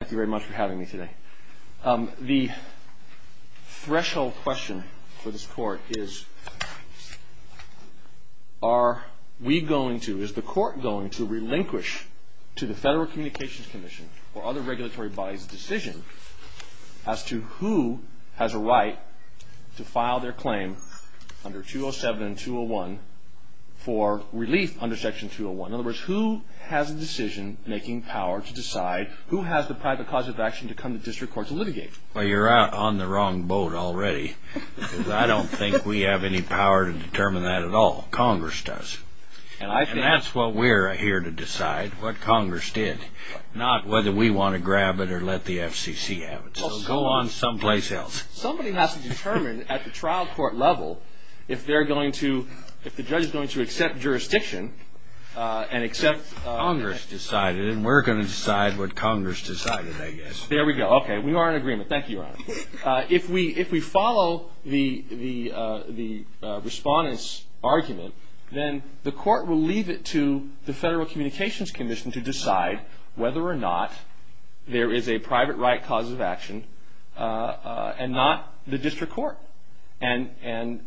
Thank you very much for having me today. The threshold question for this court is are we going to, is the court going to relinquish to the Federal Communications Commission or other regulatory bodies a decision as to who has a right to file their claim under 207 and 201 for relief under Section 201? In other words, who has a decision-making power to decide who has the private cause of action to come to district court to litigate? Well, you're on the wrong boat already. I don't think we have any power to determine that at all. Congress does. And that's what we're here to decide, what Congress did, not whether we want to grab it or let the FCC have it. So go on someplace else. Somebody has to determine at the trial court level if they're going to, if the judge is going to accept jurisdiction and accept... Congress decided, and we're going to decide what Congress decided, I guess. There we go. Okay. We are in agreement. Thank you, Your Honor. If we follow the respondent's argument, then the court will leave it to the Federal Communications Commission to decide whether or not there is a private right cause of action and not the district court. And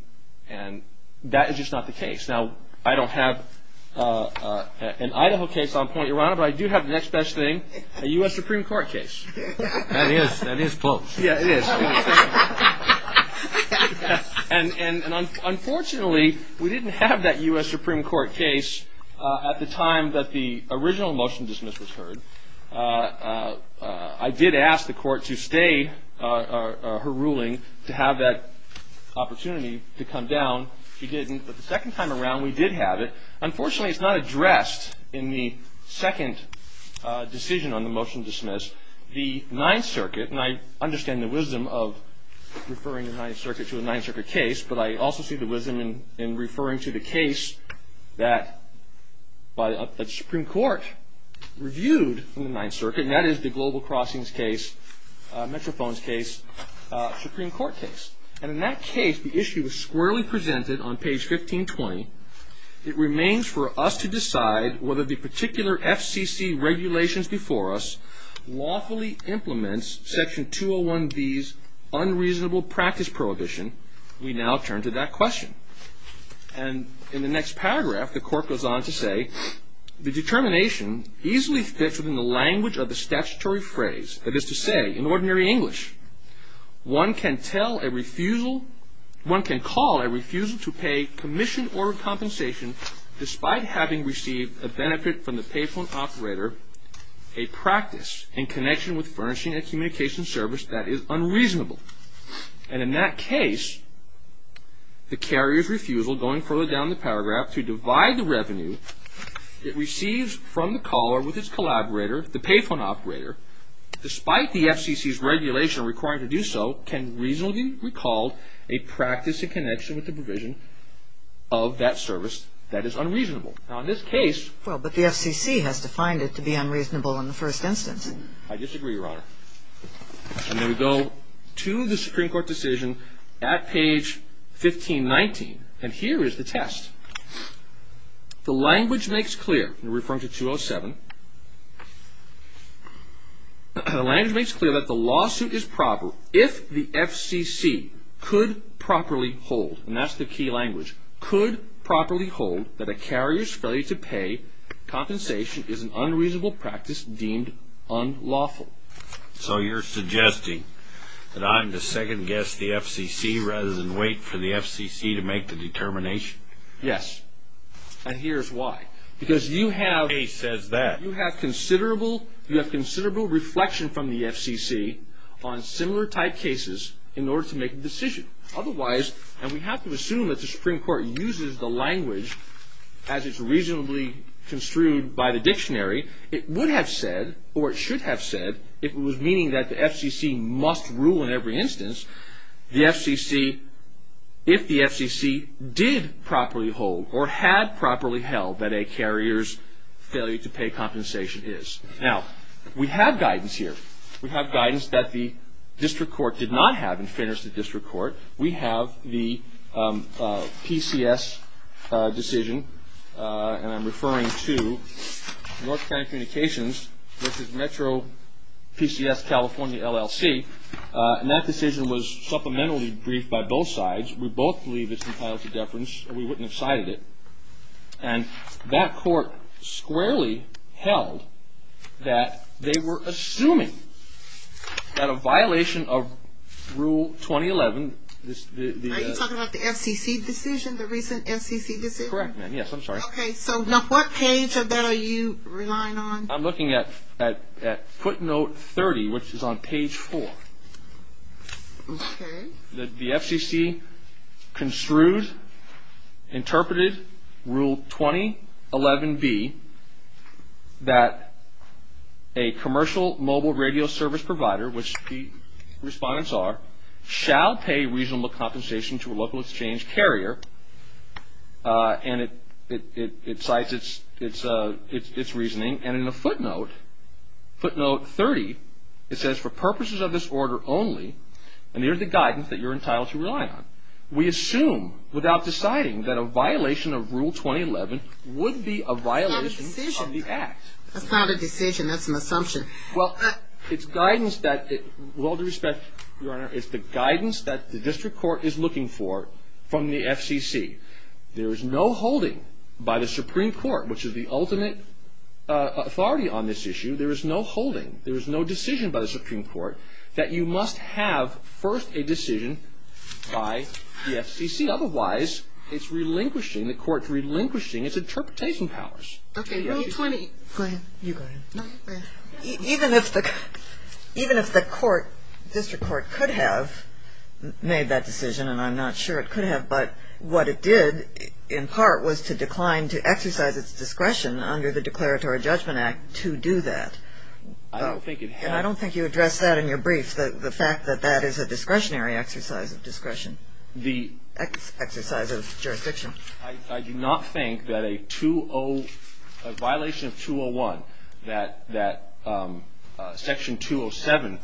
that is just not the case. Now, I don't have an Idaho case on point, Your Honor, but I do have the next best thing, a U.S. Supreme Court case. That is close. Yeah, it is. And unfortunately, we didn't have that U.S. Supreme Court case at the time that the original motion dismissal was heard. I did ask the court to stay her ruling to have that opportunity to come down. She didn't. But the second time around, we did have it. Unfortunately, it's not addressed in the second decision on the motion to dismiss. The Ninth Circuit, and I understand the wisdom of referring the Ninth Circuit to a Ninth Circuit case, but I also see the wisdom in referring to the case that the Supreme Court reviewed in the Ninth Circuit, and that is the Global Crossings case, Metrophone's case, Supreme Court case. And in that case, the issue was squarely presented on page 1520. It remains for us to decide whether the particular FCC regulations before us lawfully implements Section 201B's unreasonable practice prohibition. We now turn to that question. And in the next paragraph, the court goes on to say, The determination easily fits within the language of the statutory phrase, that is to say, in ordinary English. One can tell a refusal, one can call a refusal to pay commission or compensation, despite having received a benefit from the payphone operator, a practice in connection with furnishing a communication service that is unreasonable. And in that case, the carrier's refusal, going further down the paragraph, to divide the revenue it receives from the caller with its collaborator, the payphone operator, despite the FCC's regulation requiring to do so, can reasonably be recalled a practice in connection with the provision of that service that is unreasonable. Now, in this case… Well, but the FCC has defined it to be unreasonable in the first instance. I disagree, Your Honor. And then we go to the Supreme Court decision at page 1519. And here is the test. The language makes clear, referring to 207, the language makes clear that the lawsuit is proper if the FCC could properly hold, and that's the key language, could properly hold that a carrier's failure to pay compensation is an unreasonable practice deemed unlawful. So you're suggesting that I'm to second-guess the FCC rather than wait for the FCC to make the determination? Yes. And here's why. Because you have… The case says that. You have considerable reflection from the FCC on similar type cases in order to make a decision. Otherwise, and we have to assume that the Supreme Court uses the language as it's reasonably construed by the dictionary, it would have said, or it should have said, if it was meaning that the FCC must rule in every instance, the FCC, if the FCC did properly hold or had properly held that a carrier's failure to pay compensation is. Now, we have guidance here. We have guidance that the district court did not have in fairness to the district court. We have the PCS decision, and I'm referring to North Carolina Communications versus Metro PCS California LLC, and that decision was supplementally briefed by both sides. We both believe it's entitled to deference, and we wouldn't have cited it. And that court squarely held that they were assuming that a violation of Rule 2011… Are you talking about the FCC decision, the recent FCC decision? Correct, ma'am. Yes, I'm sorry. Okay. So now what page of that are you relying on? I'm looking at footnote 30, which is on page 4. Okay. The FCC construed, interpreted Rule 2011B that a commercial mobile radio service provider, which the respondents are, shall pay reasonable compensation to a local exchange carrier, and it cites its reasoning, and in a footnote, footnote 30, it says, for purposes of this order only, and here's the guidance that you're entitled to rely on, we assume without deciding that a violation of Rule 2011 would be a violation of the Act. That's not a decision. That's an assumption. Well, it's guidance that, with all due respect, Your Honor, it's the guidance that the district court is looking for from the FCC. There is no holding by the Supreme Court, which is the ultimate authority on this issue, there is no holding, there is no decision by the Supreme Court, that you must have first a decision by the FCC. Otherwise, it's relinquishing, the court's relinquishing its interpretation powers. Okay. Rule 20. Go ahead. You go ahead. Even if the court, district court, could have made that decision, and I'm not sure it could have, but what it did, in part, was to decline to exercise its discretion under the Declaratory Judgment Act to do that. I don't think it had. And I don't think you addressed that in your brief, the fact that that is a discretionary exercise of discretion, exercise of jurisdiction. I do not think that a violation of 201, that Section 207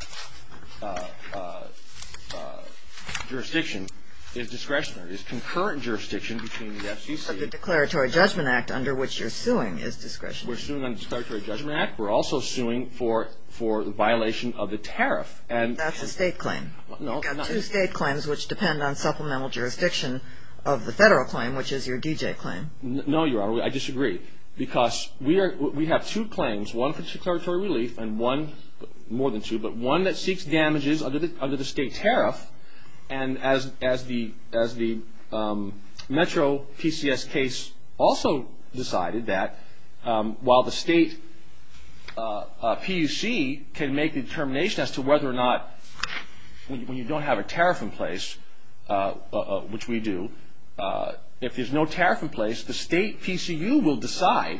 jurisdiction is discretionary. It's concurrent jurisdiction between the FCC. But the Declaratory Judgment Act under which you're suing is discretionary. We're suing under the Declaratory Judgment Act. We're also suing for the violation of the tariff. That's a state claim. You've got two state claims which depend on supplemental jurisdiction of the federal claim, which is your D.J. claim. No, Your Honor. I disagree. Because we have two claims, one for declaratory relief and one, more than two, but one that seeks damages under the state tariff. And as the Metro PCS case also decided that, while the state PUC can make the determination as to whether or not, when you don't have a tariff in place, which we do, if there's no tariff in place, the state PCU will decide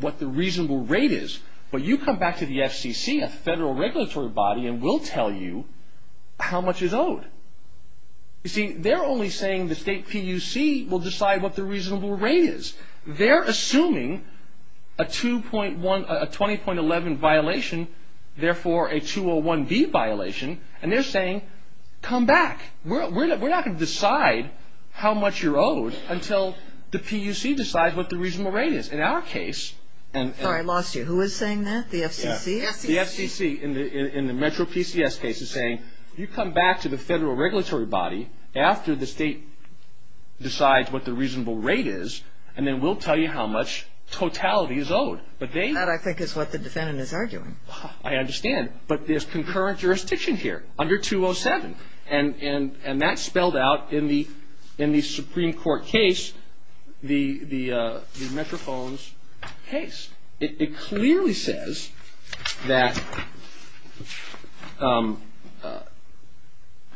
what the reasonable rate is. But you come back to the FCC, a federal regulatory body, and we'll tell you how much is owed. You see, they're only saying the state PUC will decide what the reasonable rate is. They're assuming a 2.1, a 20.11 violation, therefore a 201B violation, and they're saying, come back. We're not going to decide how much you're owed until the PUC decides what the reasonable rate is. In our case. Sorry, I lost you. Who is saying that? The FCC? The FCC in the Metro PCS case is saying, you come back to the federal regulatory body after the state decides what the reasonable rate is, and we'll tell you how much totality is owed. That, I think, is what the defendant is arguing. I understand. But there's concurrent jurisdiction here under 207, and that's spelled out in the Supreme Court case, the Metrophones case. It clearly says that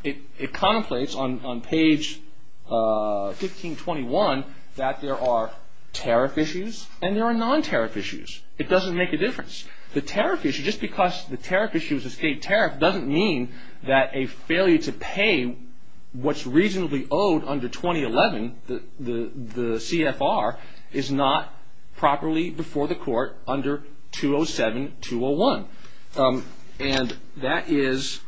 it contemplates on page 1521 that there are tariff issues and there are non-tariff issues. It doesn't make a difference. The tariff issue, just because the tariff issue is a state tariff, doesn't mean that a failure to pay what's reasonably owed under 2011, the CFR, is not properly before the court under 207, 201. And that is,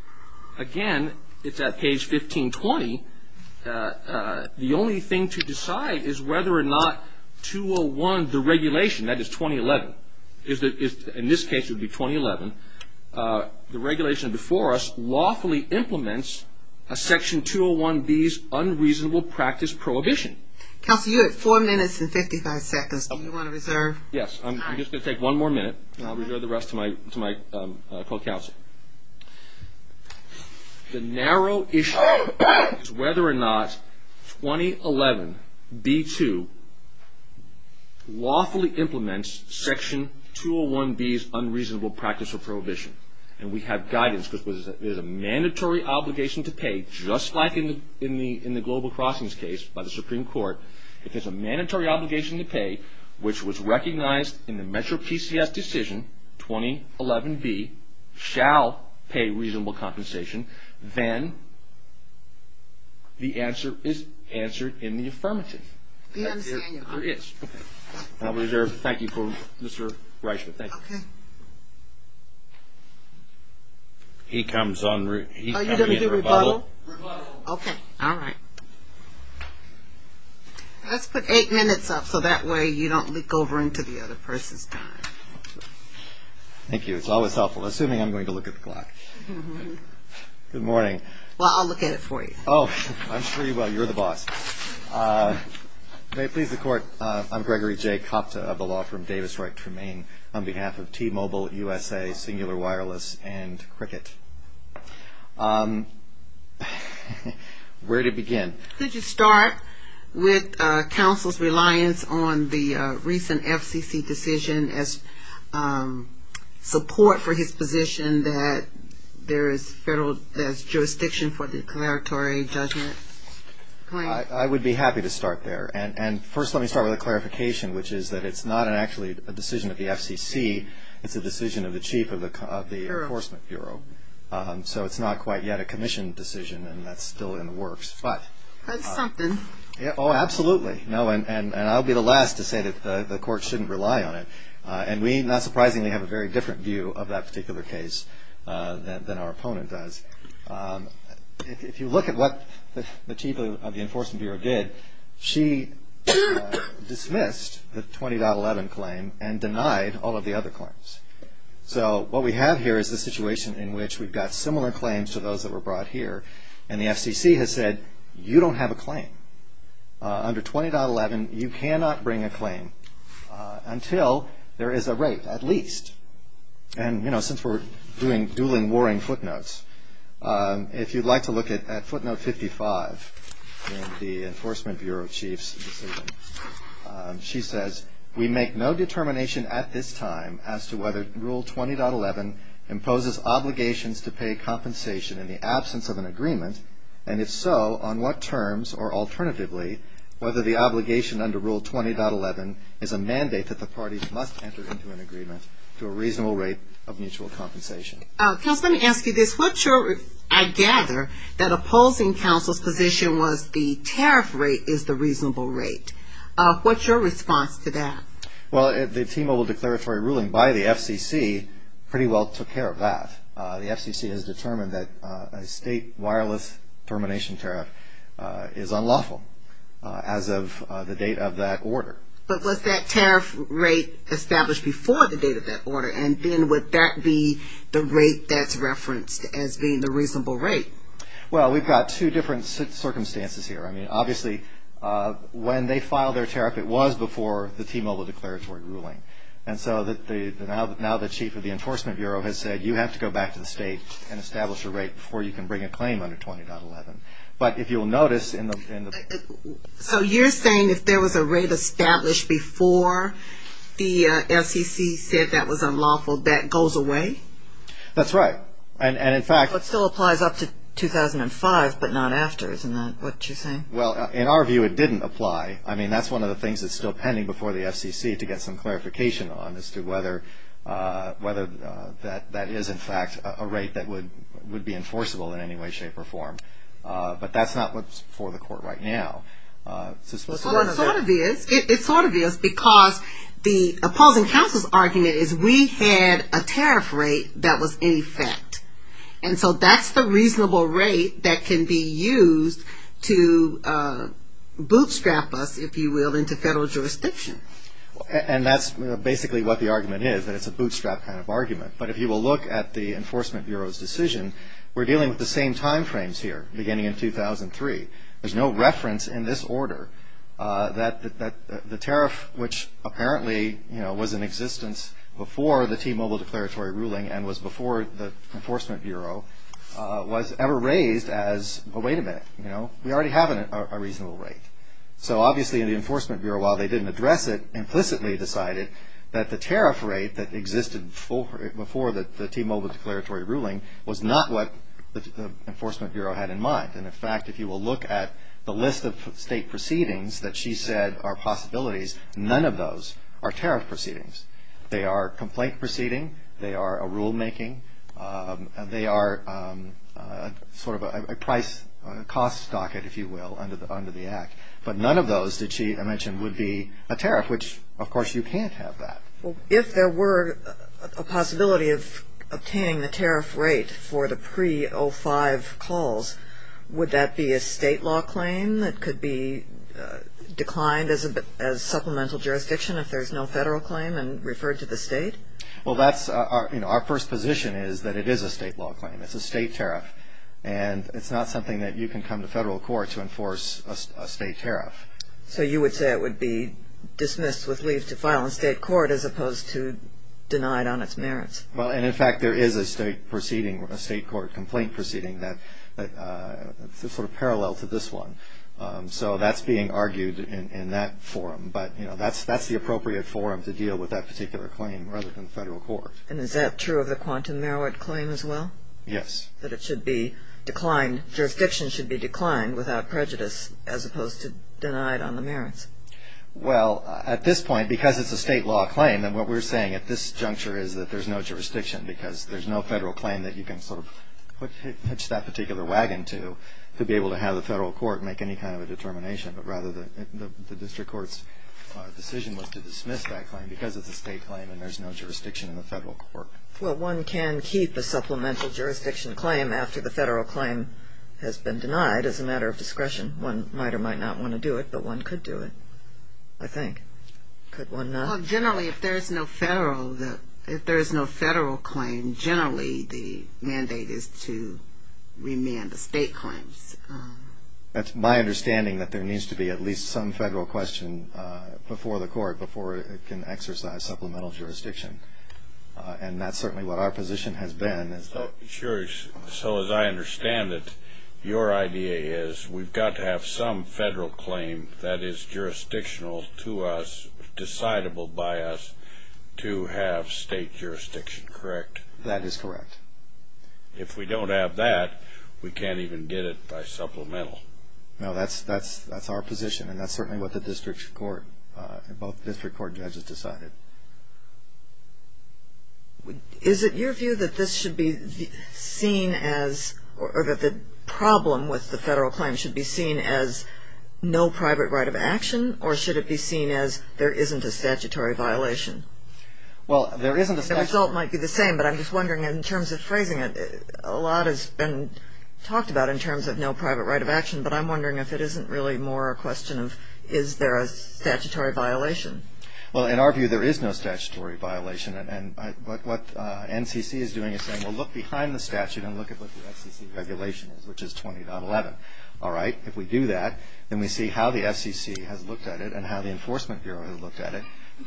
again, it's at page 1520. The only thing to decide is whether or not 201, the regulation, that is 2011, in this case it would be 2011, the regulation before us lawfully implements Section 201B's unreasonable practice prohibition. Counsel, you have four minutes and 55 seconds. Do you want to reserve? Yes. I'm just going to take one more minute, and I'll reserve the rest to my co-counsel. The narrow issue is whether or not 2011B2 lawfully implements Section 201B's unreasonable practice of prohibition. And we have guidance because it is a mandatory obligation to pay, just like in the Global Crossings case by the Supreme Court, if it's a mandatory obligation to pay, which was recognized in the Metro PCS decision, 2011B, shall pay reasonable compensation, then the answer is answered in the affirmative. We understand you. It is. Okay. I'll reserve. Thank you, Mr. Reichman. Thank you. Okay. He comes on. Are you going to do a rebuttal? Rebuttal. Okay. All right. Let's put eight minutes up so that way you don't leak over into the other person's time. Thank you. It's always helpful, assuming I'm going to look at the clock. Good morning. Well, I'll look at it for you. Oh, I'm sure you will. You're the boss. May it please the Court, I'm Gregory J. Kopta of the law firm Davis-Reichman, on behalf of T-Mobile USA, Singular Wireless, and Cricket. Where to begin? Could you start with counsel's reliance on the recent FCC decision as support for his position that there is jurisdiction for declaratory judgment? I would be happy to start there. And first let me start with a clarification, which is that it's not actually a decision of the FCC, it's a decision of the chief of the Enforcement Bureau. So it's not quite yet a commission decision, and that's still in the works. That's something. Oh, absolutely. And I'll be the last to say that the Court shouldn't rely on it. And we, not surprisingly, have a very different view of that particular case than our opponent does. If you look at what the chief of the Enforcement Bureau did, she dismissed the 20.11 claim and denied all of the other claims. So what we have here is a situation in which we've got similar claims to those that were brought here, and the FCC has said, you don't have a claim. Under 20.11, you cannot bring a claim until there is a rate, at least. And, you know, since we're doing dueling warring footnotes, if you'd like to look at footnote 55 in the Enforcement Bureau chief's decision, she says, we make no determination at this time as to whether Rule 20.11 imposes obligations to pay compensation in the absence of an agreement, and if so, on what terms, or alternatively, whether the obligation under Rule 20.11 is a mandate that the parties must enter into an agreement to a reasonable rate of mutual compensation. Counsel, let me ask you this. What's your, I gather, that opposing counsel's position was the tariff rate is the reasonable rate. What's your response to that? Well, the T-Mobile declaratory ruling by the FCC pretty well took care of that. The FCC has determined that a state wireless termination tariff is unlawful as of the date of that order. But was that tariff rate established before the date of that order, and then would that be the rate that's referenced as being the reasonable rate? Well, we've got two different circumstances here. I mean, obviously, when they filed their tariff, it was before the T-Mobile declaratory ruling. And so now the chief of the Enforcement Bureau has said you have to go back to the state and establish a rate before you can bring a claim under 20.11. But if you'll notice in the So you're saying if there was a rate established before the FCC said that was unlawful, that goes away? That's right. And, in fact But still applies up to 2005, but not after, isn't that what you're saying? Well, in our view, it didn't apply. I mean, that's one of the things that's still pending before the FCC to get some clarification on, as to whether that is, in fact, a rate that would be enforceable in any way, shape, or form. But that's not what's before the court right now. Well, it sort of is. It sort of is because the opposing counsel's argument is we had a tariff rate that was in effect. And so that's the reasonable rate that can be used to bootstrap us, if you will, into federal jurisdiction. And that's basically what the argument is, that it's a bootstrap kind of argument. But if you will look at the Enforcement Bureau's decision, we're dealing with the same time frames here, beginning in 2003. There's no reference in this order that the tariff, which apparently, you know, was in existence before the T-Mobile declaratory ruling and was before the Enforcement Bureau, was ever raised as, well, wait a minute, you know, we already have a reasonable rate. So obviously, the Enforcement Bureau, while they didn't address it, implicitly decided that the tariff rate that existed before the T-Mobile declaratory ruling was not what the Enforcement Bureau had in mind. And, in fact, if you will look at the list of state proceedings that she said are possibilities, none of those are tariff proceedings. They are a complaint proceeding. They are a rulemaking. They are sort of a price cost docket, if you will, under the Act. But none of those did she mention would be a tariff, which, of course, you can't have that. Well, if there were a possibility of obtaining the tariff rate for the pre-'05 calls, would that be a state law claim that could be declined as supplemental jurisdiction if there's no federal claim and referred to the state? Well, that's our, you know, our first position is that it is a state law claim. It's a state tariff. And it's not something that you can come to federal court to enforce a state tariff. So you would say it would be dismissed with leave to file in state court as opposed to denied on its merits? Well, and, in fact, there is a state proceeding, a state court complaint proceeding that's sort of parallel to this one. So that's being argued in that forum. But, you know, that's the appropriate forum to deal with that particular claim rather than the federal court. And is that true of the quantum merit claim as well? Yes. That it should be declined, jurisdiction should be declined without prejudice as opposed to denied on the merits? Well, at this point, because it's a state law claim, then what we're saying at this juncture is that there's no jurisdiction because there's no federal claim that you can sort of hitch that particular wagon to to be able to have the federal court make any kind of a determination. But rather the district court's decision was to dismiss that claim because it's a state claim and there's no jurisdiction in the federal court. Well, one can keep a supplemental jurisdiction claim after the federal claim has been denied as a matter of discretion. One might or might not want to do it, but one could do it, I think. Could one not? Well, generally, if there is no federal claim, generally the mandate is to remand the state claims. That's my understanding, that there needs to be at least some federal question before the court before it can exercise supplemental jurisdiction. And that's certainly what our position has been. So as I understand it, your idea is we've got to have some federal claim that is jurisdictional to us, decidable by us, to have state jurisdiction, correct? That is correct. If we don't have that, we can't even get it by supplemental. No, that's our position, and that's certainly what the district court and both district court judges decided. Is it your view that this should be seen as or that the problem with the federal claim should be seen as no private right of action or should it be seen as there isn't a statutory violation? Well, there isn't a statutory violation. The result might be the same, but I'm just wondering in terms of phrasing it, a lot has been talked about in terms of no private right of action, but I'm wondering if it isn't really more a question of is there a statutory violation? Well, in our view, there is no statutory violation. And what NCC is doing is saying, well, look behind the statute and look at what the FCC regulation is, which is 20.11. All right, if we do that, then we see how the FCC has looked at it and how the Enforcement Bureau has looked at it.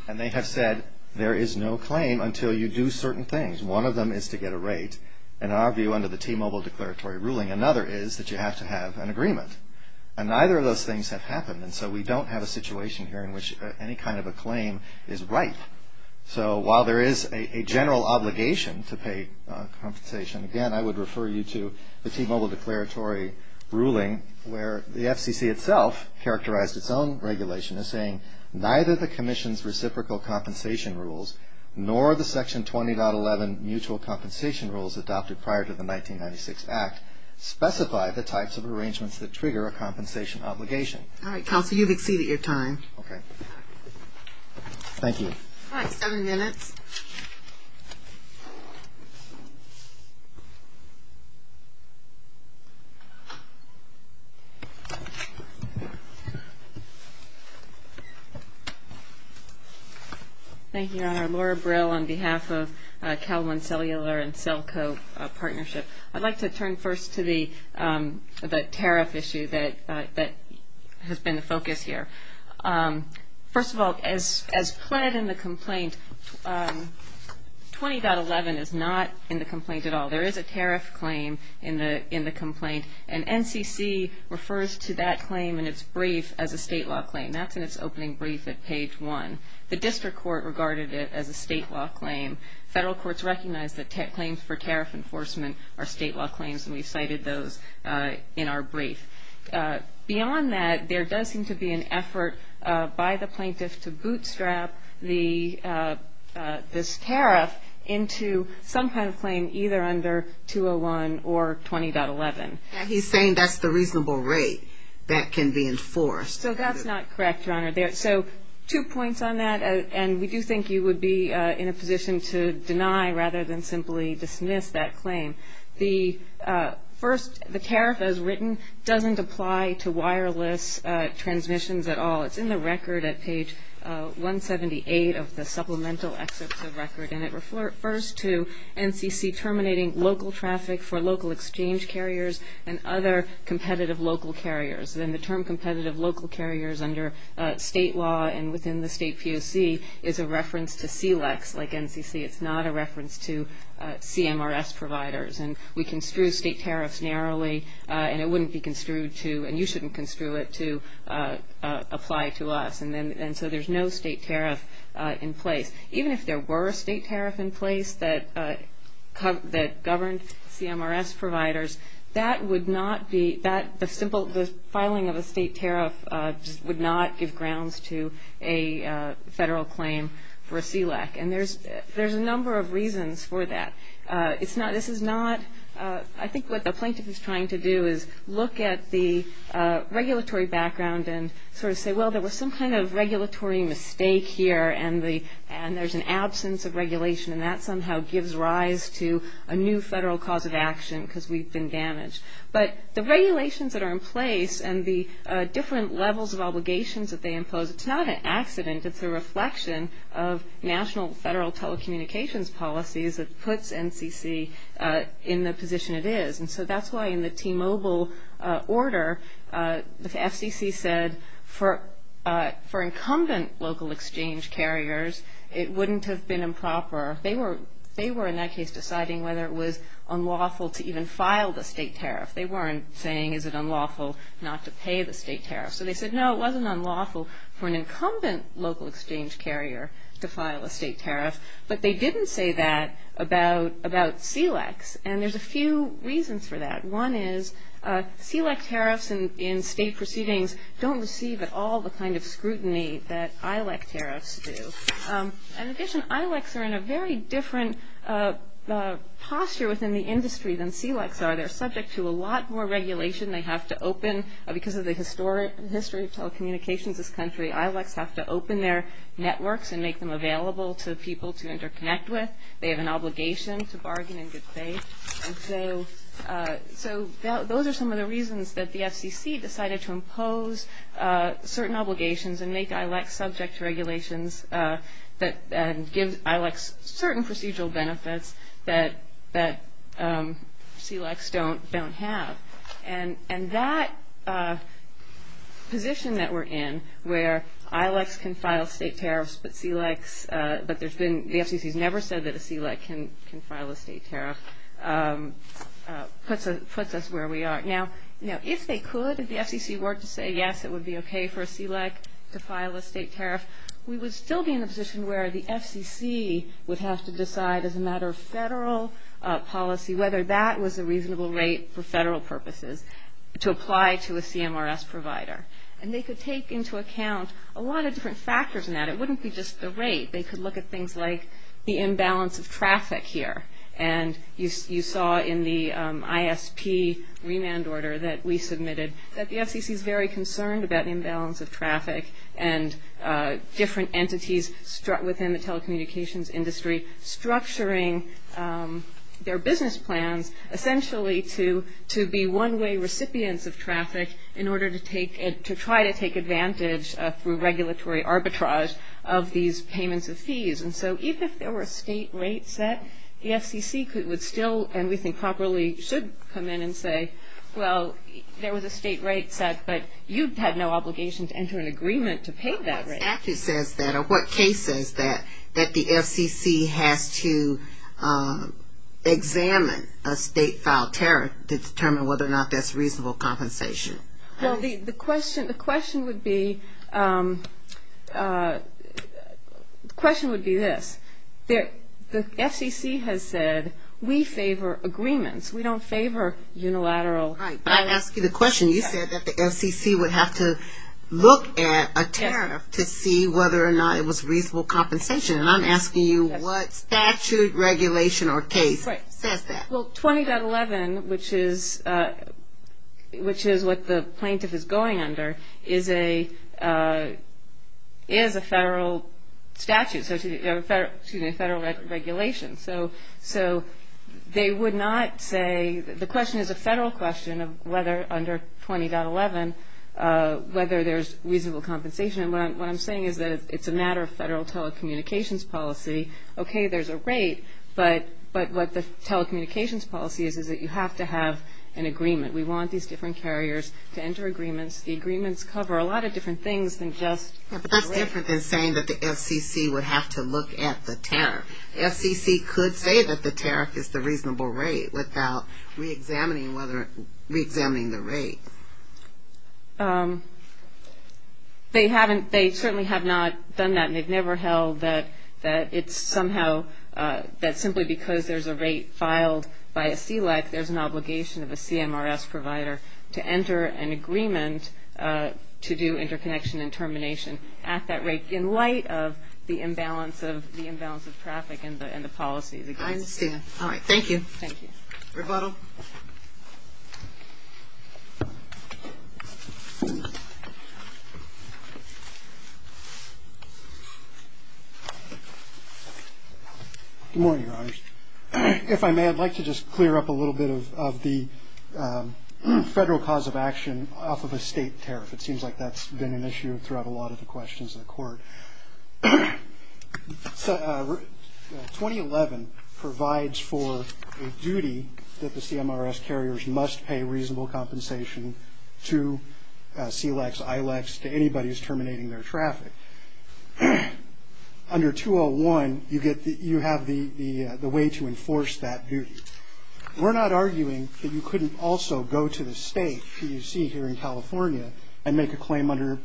And they have said there is no claim until you do certain things. One of them is to get a rate. In our view, under the T-Mobile Declaratory Ruling, another is that you have to have an agreement. And neither of those things have happened, and so we don't have a situation here in which any kind of a claim is right. So while there is a general obligation to pay compensation, again, I would refer you to the T-Mobile Declaratory Ruling where the FCC itself characterized its own regulation as saying neither the Commission's reciprocal compensation rules nor the Section 20.11 mutual compensation rules adopted prior to the 1996 Act specify the types of arrangements that trigger a compensation obligation. All right, Counselor, you've exceeded your time. Okay. Thank you. All right, seven minutes. Thank you, Your Honor. Laura Brill on behalf of Cal One Cellular and Celco Partnership. I'd like to turn first to the tariff issue that has been the focus here. First of all, as pled in the complaint, 20.11 is not in the complaint at all. There is a tariff claim in the complaint, and NCC refers to that claim in its brief as a state law claim. That's in its opening brief at page one. The district court regarded it as a state law claim. Federal courts recognize that claims for tariff enforcement are state law claims, and we've cited those in our brief. Beyond that, there does seem to be an effort by the plaintiff to bootstrap this tariff into some kind of claim either under 201 or 20.11. He's saying that's the reasonable rate that can be enforced. So that's not correct, Your Honor. So two points on that, and we do think you would be in a position to deny rather than simply dismiss that claim. The first, the tariff as written doesn't apply to wireless transmissions at all. It's in the record at page 178 of the supplemental excerpts of record, and it refers to NCC terminating local traffic for local exchange carriers and other competitive local carriers. And the term competitive local carriers under state law and within the state POC is a reference to CLEX, like NCC. It's not a reference to CMRS providers. And we construe state tariffs narrowly, and it wouldn't be construed to and you shouldn't construe it to apply to us. And so there's no state tariff in place. Even if there were a state tariff in place that governed CMRS providers, that would not be the simple filing of a state tariff would not give grounds to a federal claim for a CLEX. And there's a number of reasons for that. I think what the plaintiff is trying to do is look at the regulatory background and sort of say, well, there was some kind of regulatory mistake here and there's an absence of regulation, and that somehow gives rise to a new federal cause of action because we've been damaged. But the regulations that are in place and the different levels of obligations that they impose, it's not an accident. It's a reflection of national federal telecommunications policies that puts NCC in the position it is. And so that's why in the T-Mobile order, the FCC said for incumbent local exchange carriers it wouldn't have been improper. They were in that case deciding whether it was unlawful to even file the state tariff. They weren't saying is it unlawful not to pay the state tariff. So they said, no, it wasn't unlawful for an incumbent local exchange carrier to file a state tariff. But they didn't say that about CLECs, and there's a few reasons for that. One is CLEC tariffs in state proceedings don't receive at all the kind of scrutiny that ILEC tariffs do. In addition, ILECs are in a very different posture within the industry than CLECs are. They're subject to a lot more regulation. They have to open, because of the history of telecommunications in this country, ILECs have to open their networks and make them available to people to interconnect with. They have an obligation to bargain in good faith. And so those are some of the reasons that the FCC decided to impose certain obligations and make ILECs subject to regulations that give ILECs certain procedural benefits that CLECs don't have. And that position that we're in, where ILECs can file state tariffs, but the FCC has never said that a CLEC can file a state tariff, puts us where we are. Now, if they could, if the FCC were to say, yes, it would be okay for a CLEC to file a state tariff, we would still be in a position where the FCC would have to decide as a matter of federal policy whether that was a reasonable rate for federal purposes to apply to a CMRS provider. And they could take into account a lot of different factors in that. It wouldn't be just the rate. They could look at things like the imbalance of traffic here. And you saw in the ISP remand order that we submitted that the FCC is very concerned about imbalance of traffic and different entities within the telecommunications industry structuring their business plans essentially to be one-way recipients of traffic in order to try to take advantage through regulatory arbitrage of these payments of fees. And so even if there were a state rate set, the FCC would still, and we think properly, should come in and say, well, there was a state rate set, but you had no obligation to enter an agreement to pay that rate. What statute says that or what case says that that the FCC has to examine a state-filed tariff to determine whether or not that's reasonable compensation? Well, the question would be this. The FCC has said we favor agreements. We don't favor unilateral. I asked you the question. You said that the FCC would have to look at a tariff to see whether or not it was reasonable compensation. And I'm asking you what statute, regulation, or case says that. Well, 20.11, which is what the plaintiff is going under, is a federal statute, excuse me, a federal regulation. So they would not say the question is a federal question of whether under 20.11 whether there's reasonable compensation. And what I'm saying is that it's a matter of federal telecommunications policy. Okay, there's a rate, but what the telecommunications policy is is that you have to have an agreement. We want these different carriers to enter agreements. The agreements cover a lot of different things than just the rate. But that's different than saying that the FCC would have to look at the tariff. The FCC could say that the tariff is the reasonable rate without reexamining the rate. They certainly have not done that, and they've never held that it's somehow that simply because there's a rate filed by a CLEC, there's an obligation of a CMRS provider to enter an agreement to do interconnection and termination at that rate. So I think in light of the imbalance of traffic and the policies. I understand. All right, thank you. Thank you. Rebuttal. Good morning, Your Honors. If I may, I'd like to just clear up a little bit of the federal cause of action off of a state tariff. It seems like that's been an issue throughout a lot of the questions in the court. 2011 provides for a duty that the CMRS carriers must pay reasonable compensation to CLECs, ILECs, to anybody who's terminating their traffic. Under 201, you have the way to enforce that duty. We're not arguing that you couldn't also go to the state, PUC here in California, and make a claim under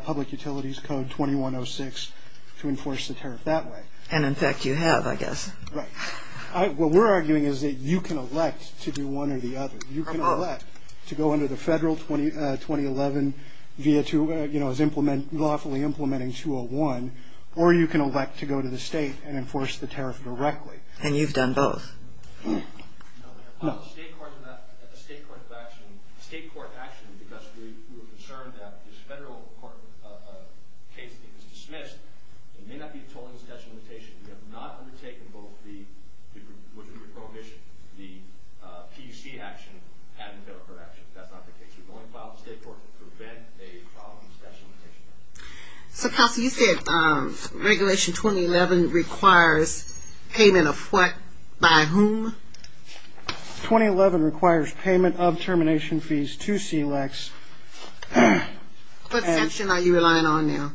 Public Utilities Code 2106 to enforce the tariff that way. And, in fact, you have, I guess. Right. What we're arguing is that you can elect to do one or the other. You can elect to go under the federal 2011, you know, as lawfully implementing 201, or you can elect to go to the state and enforce the tariff directly. And you've done both. No, we have filed a state court of action because we were concerned that this federal court case that was dismissed, it may not be a tolling of the statute of limitations. We have not undertaken both the PUC action and the federal court action. That's not the case. We've only filed a state court to prevent a problem of the statute of limitations. So, Counsel, you said Regulation 2011 requires payment of what? By whom? 2011 requires payment of termination fees to CLEX. What section are you relying on now?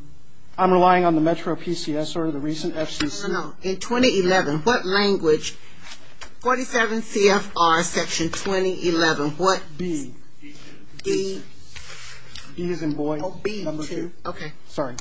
I'm relying on the Metro PCS or the recent FCC. No, no, no. In 2011, what language? 47 CFR Section 2011. What? B. D. E as in boy. No, B. Okay. Sorry.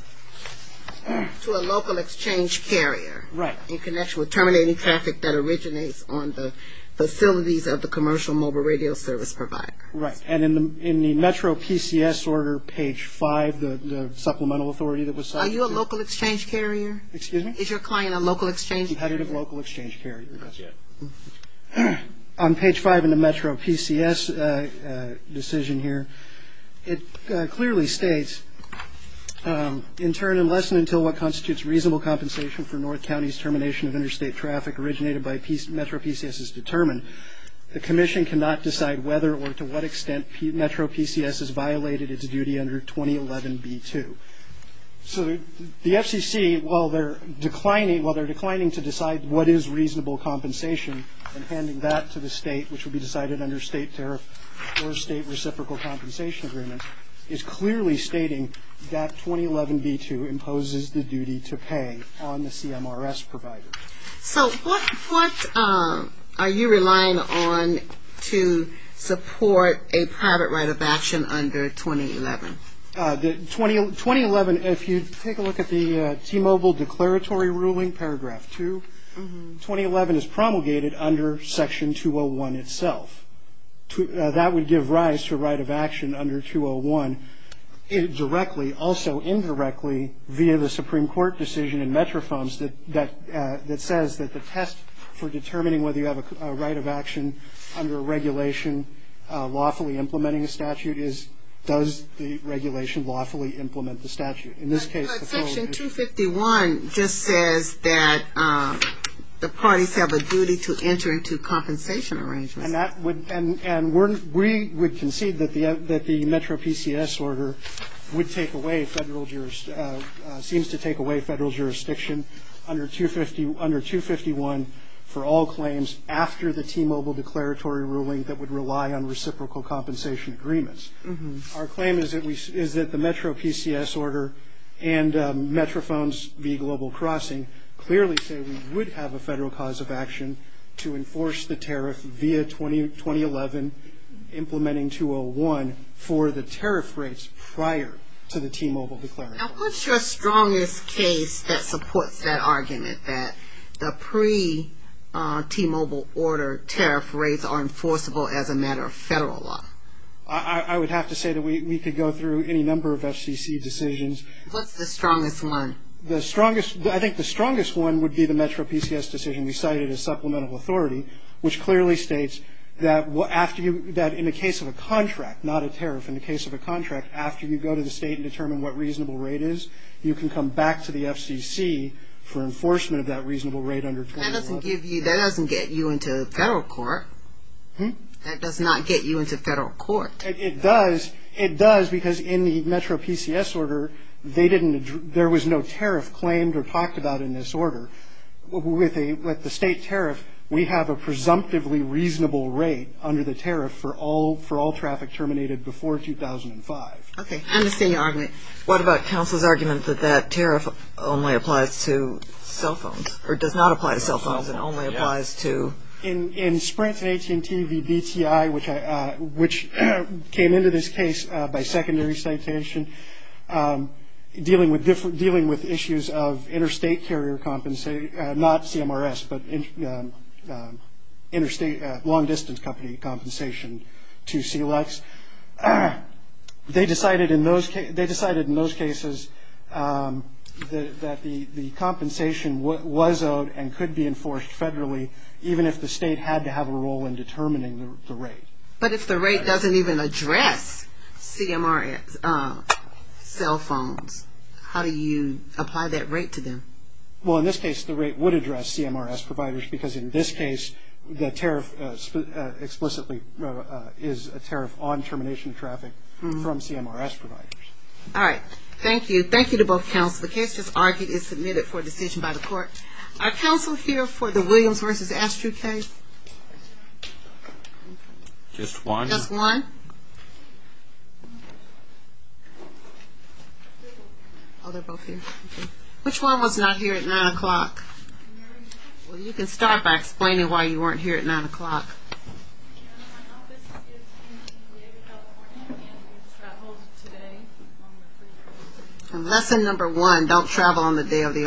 To a local exchange carrier. Right. In connection with terminating traffic that originates on the facilities of the commercial mobile radio service provider. Right. And in the Metro PCS order, page 5, the supplemental authority that was set. Are you a local exchange carrier? Excuse me? Is your client a local exchange carrier? Competitive local exchange carrier. Not yet. On page 5 in the Metro PCS decision here, it clearly states, in turn unless and until what constitutes reasonable compensation for North County's termination of interstate traffic originated by Metro PCS is determined, the commission cannot decide whether or to what extent Metro PCS has violated its duty under 2011 B.2. So the FCC, while they're declining to decide what is reasonable compensation and handing that to the state, which would be decided under state tariff or state reciprocal compensation agreement, is clearly stating that 2011 B.2 imposes the duty to pay on the CMRS provider. So what are you relying on to support a private right of action under 2011? 2011, if you take a look at the T-Mobile declaratory ruling, paragraph 2, 2011 is promulgated under section 201 itself. That would give rise to a right of action under 201 directly, also indirectly via the Supreme Court decision in MetroFOMS that says that the test for determining whether you have a right of action under a regulation lawfully implementing a statute is does the regulation lawfully implement the statute. In this case, the following is true. But section 251 just says that the parties have a duty to enter into compensation arrangements. And we would concede that the Metro PCS order would take away federal jurisdiction, seems to take away federal jurisdiction under 251 for all claims after the T-Mobile declaratory ruling that would rely on reciprocal compensation agreements. Our claim is that the Metro PCS order and MetroFOMS v. Global Crossing clearly say we would have a federal cause of action to enforce the tariff via 2011, implementing 201 for the tariff rates prior to the T-Mobile declaratory. Now, what's your strongest case that supports that argument, that the pre-T-Mobile order tariff rates are enforceable as a matter of federal law? I would have to say that we could go through any number of FCC decisions. What's the strongest one? I think the strongest one would be the Metro PCS decision we cited as supplemental authority, which clearly states that in the case of a contract, not a tariff, in the case of a contract, after you go to the state and determine what reasonable rate is, you can come back to the FCC for enforcement of that reasonable rate under 2011. That doesn't get you into federal court. That does not get you into federal court. It does because in the Metro PCS order, there was no tariff claimed or talked about in this order. With the state tariff, we have a presumptively reasonable rate under the tariff for all traffic terminated before 2005. Okay, I understand your argument. What about counsel's argument that that tariff only applies to cell phones or does not apply to cell phones and only applies to? In Sprint's AT&T v. DTI, which came into this case by secondary citation, dealing with issues of interstate carrier compensation, not CMRS, but long-distance company compensation to CLEX, they decided in those cases that the compensation was owed and could be enforced federally, even if the state had to have a role in determining the rate. But if the rate doesn't even address CMRS cell phones, how do you apply that rate to them? Well, in this case, the rate would address CMRS providers because in this case, the tariff explicitly is a tariff on termination of traffic from CMRS providers. All right. Thank you. Thank you to both counsel. The case that's argued is submitted for decision by the court. Are counsel here for the Williams v. Astrue case? Just one. Just one? Oh, they're both here. Which one was not here at 9 o'clock? Well, you can start by explaining why you weren't here at 9 o'clock. Lesson number one, don't travel on the day of the argument.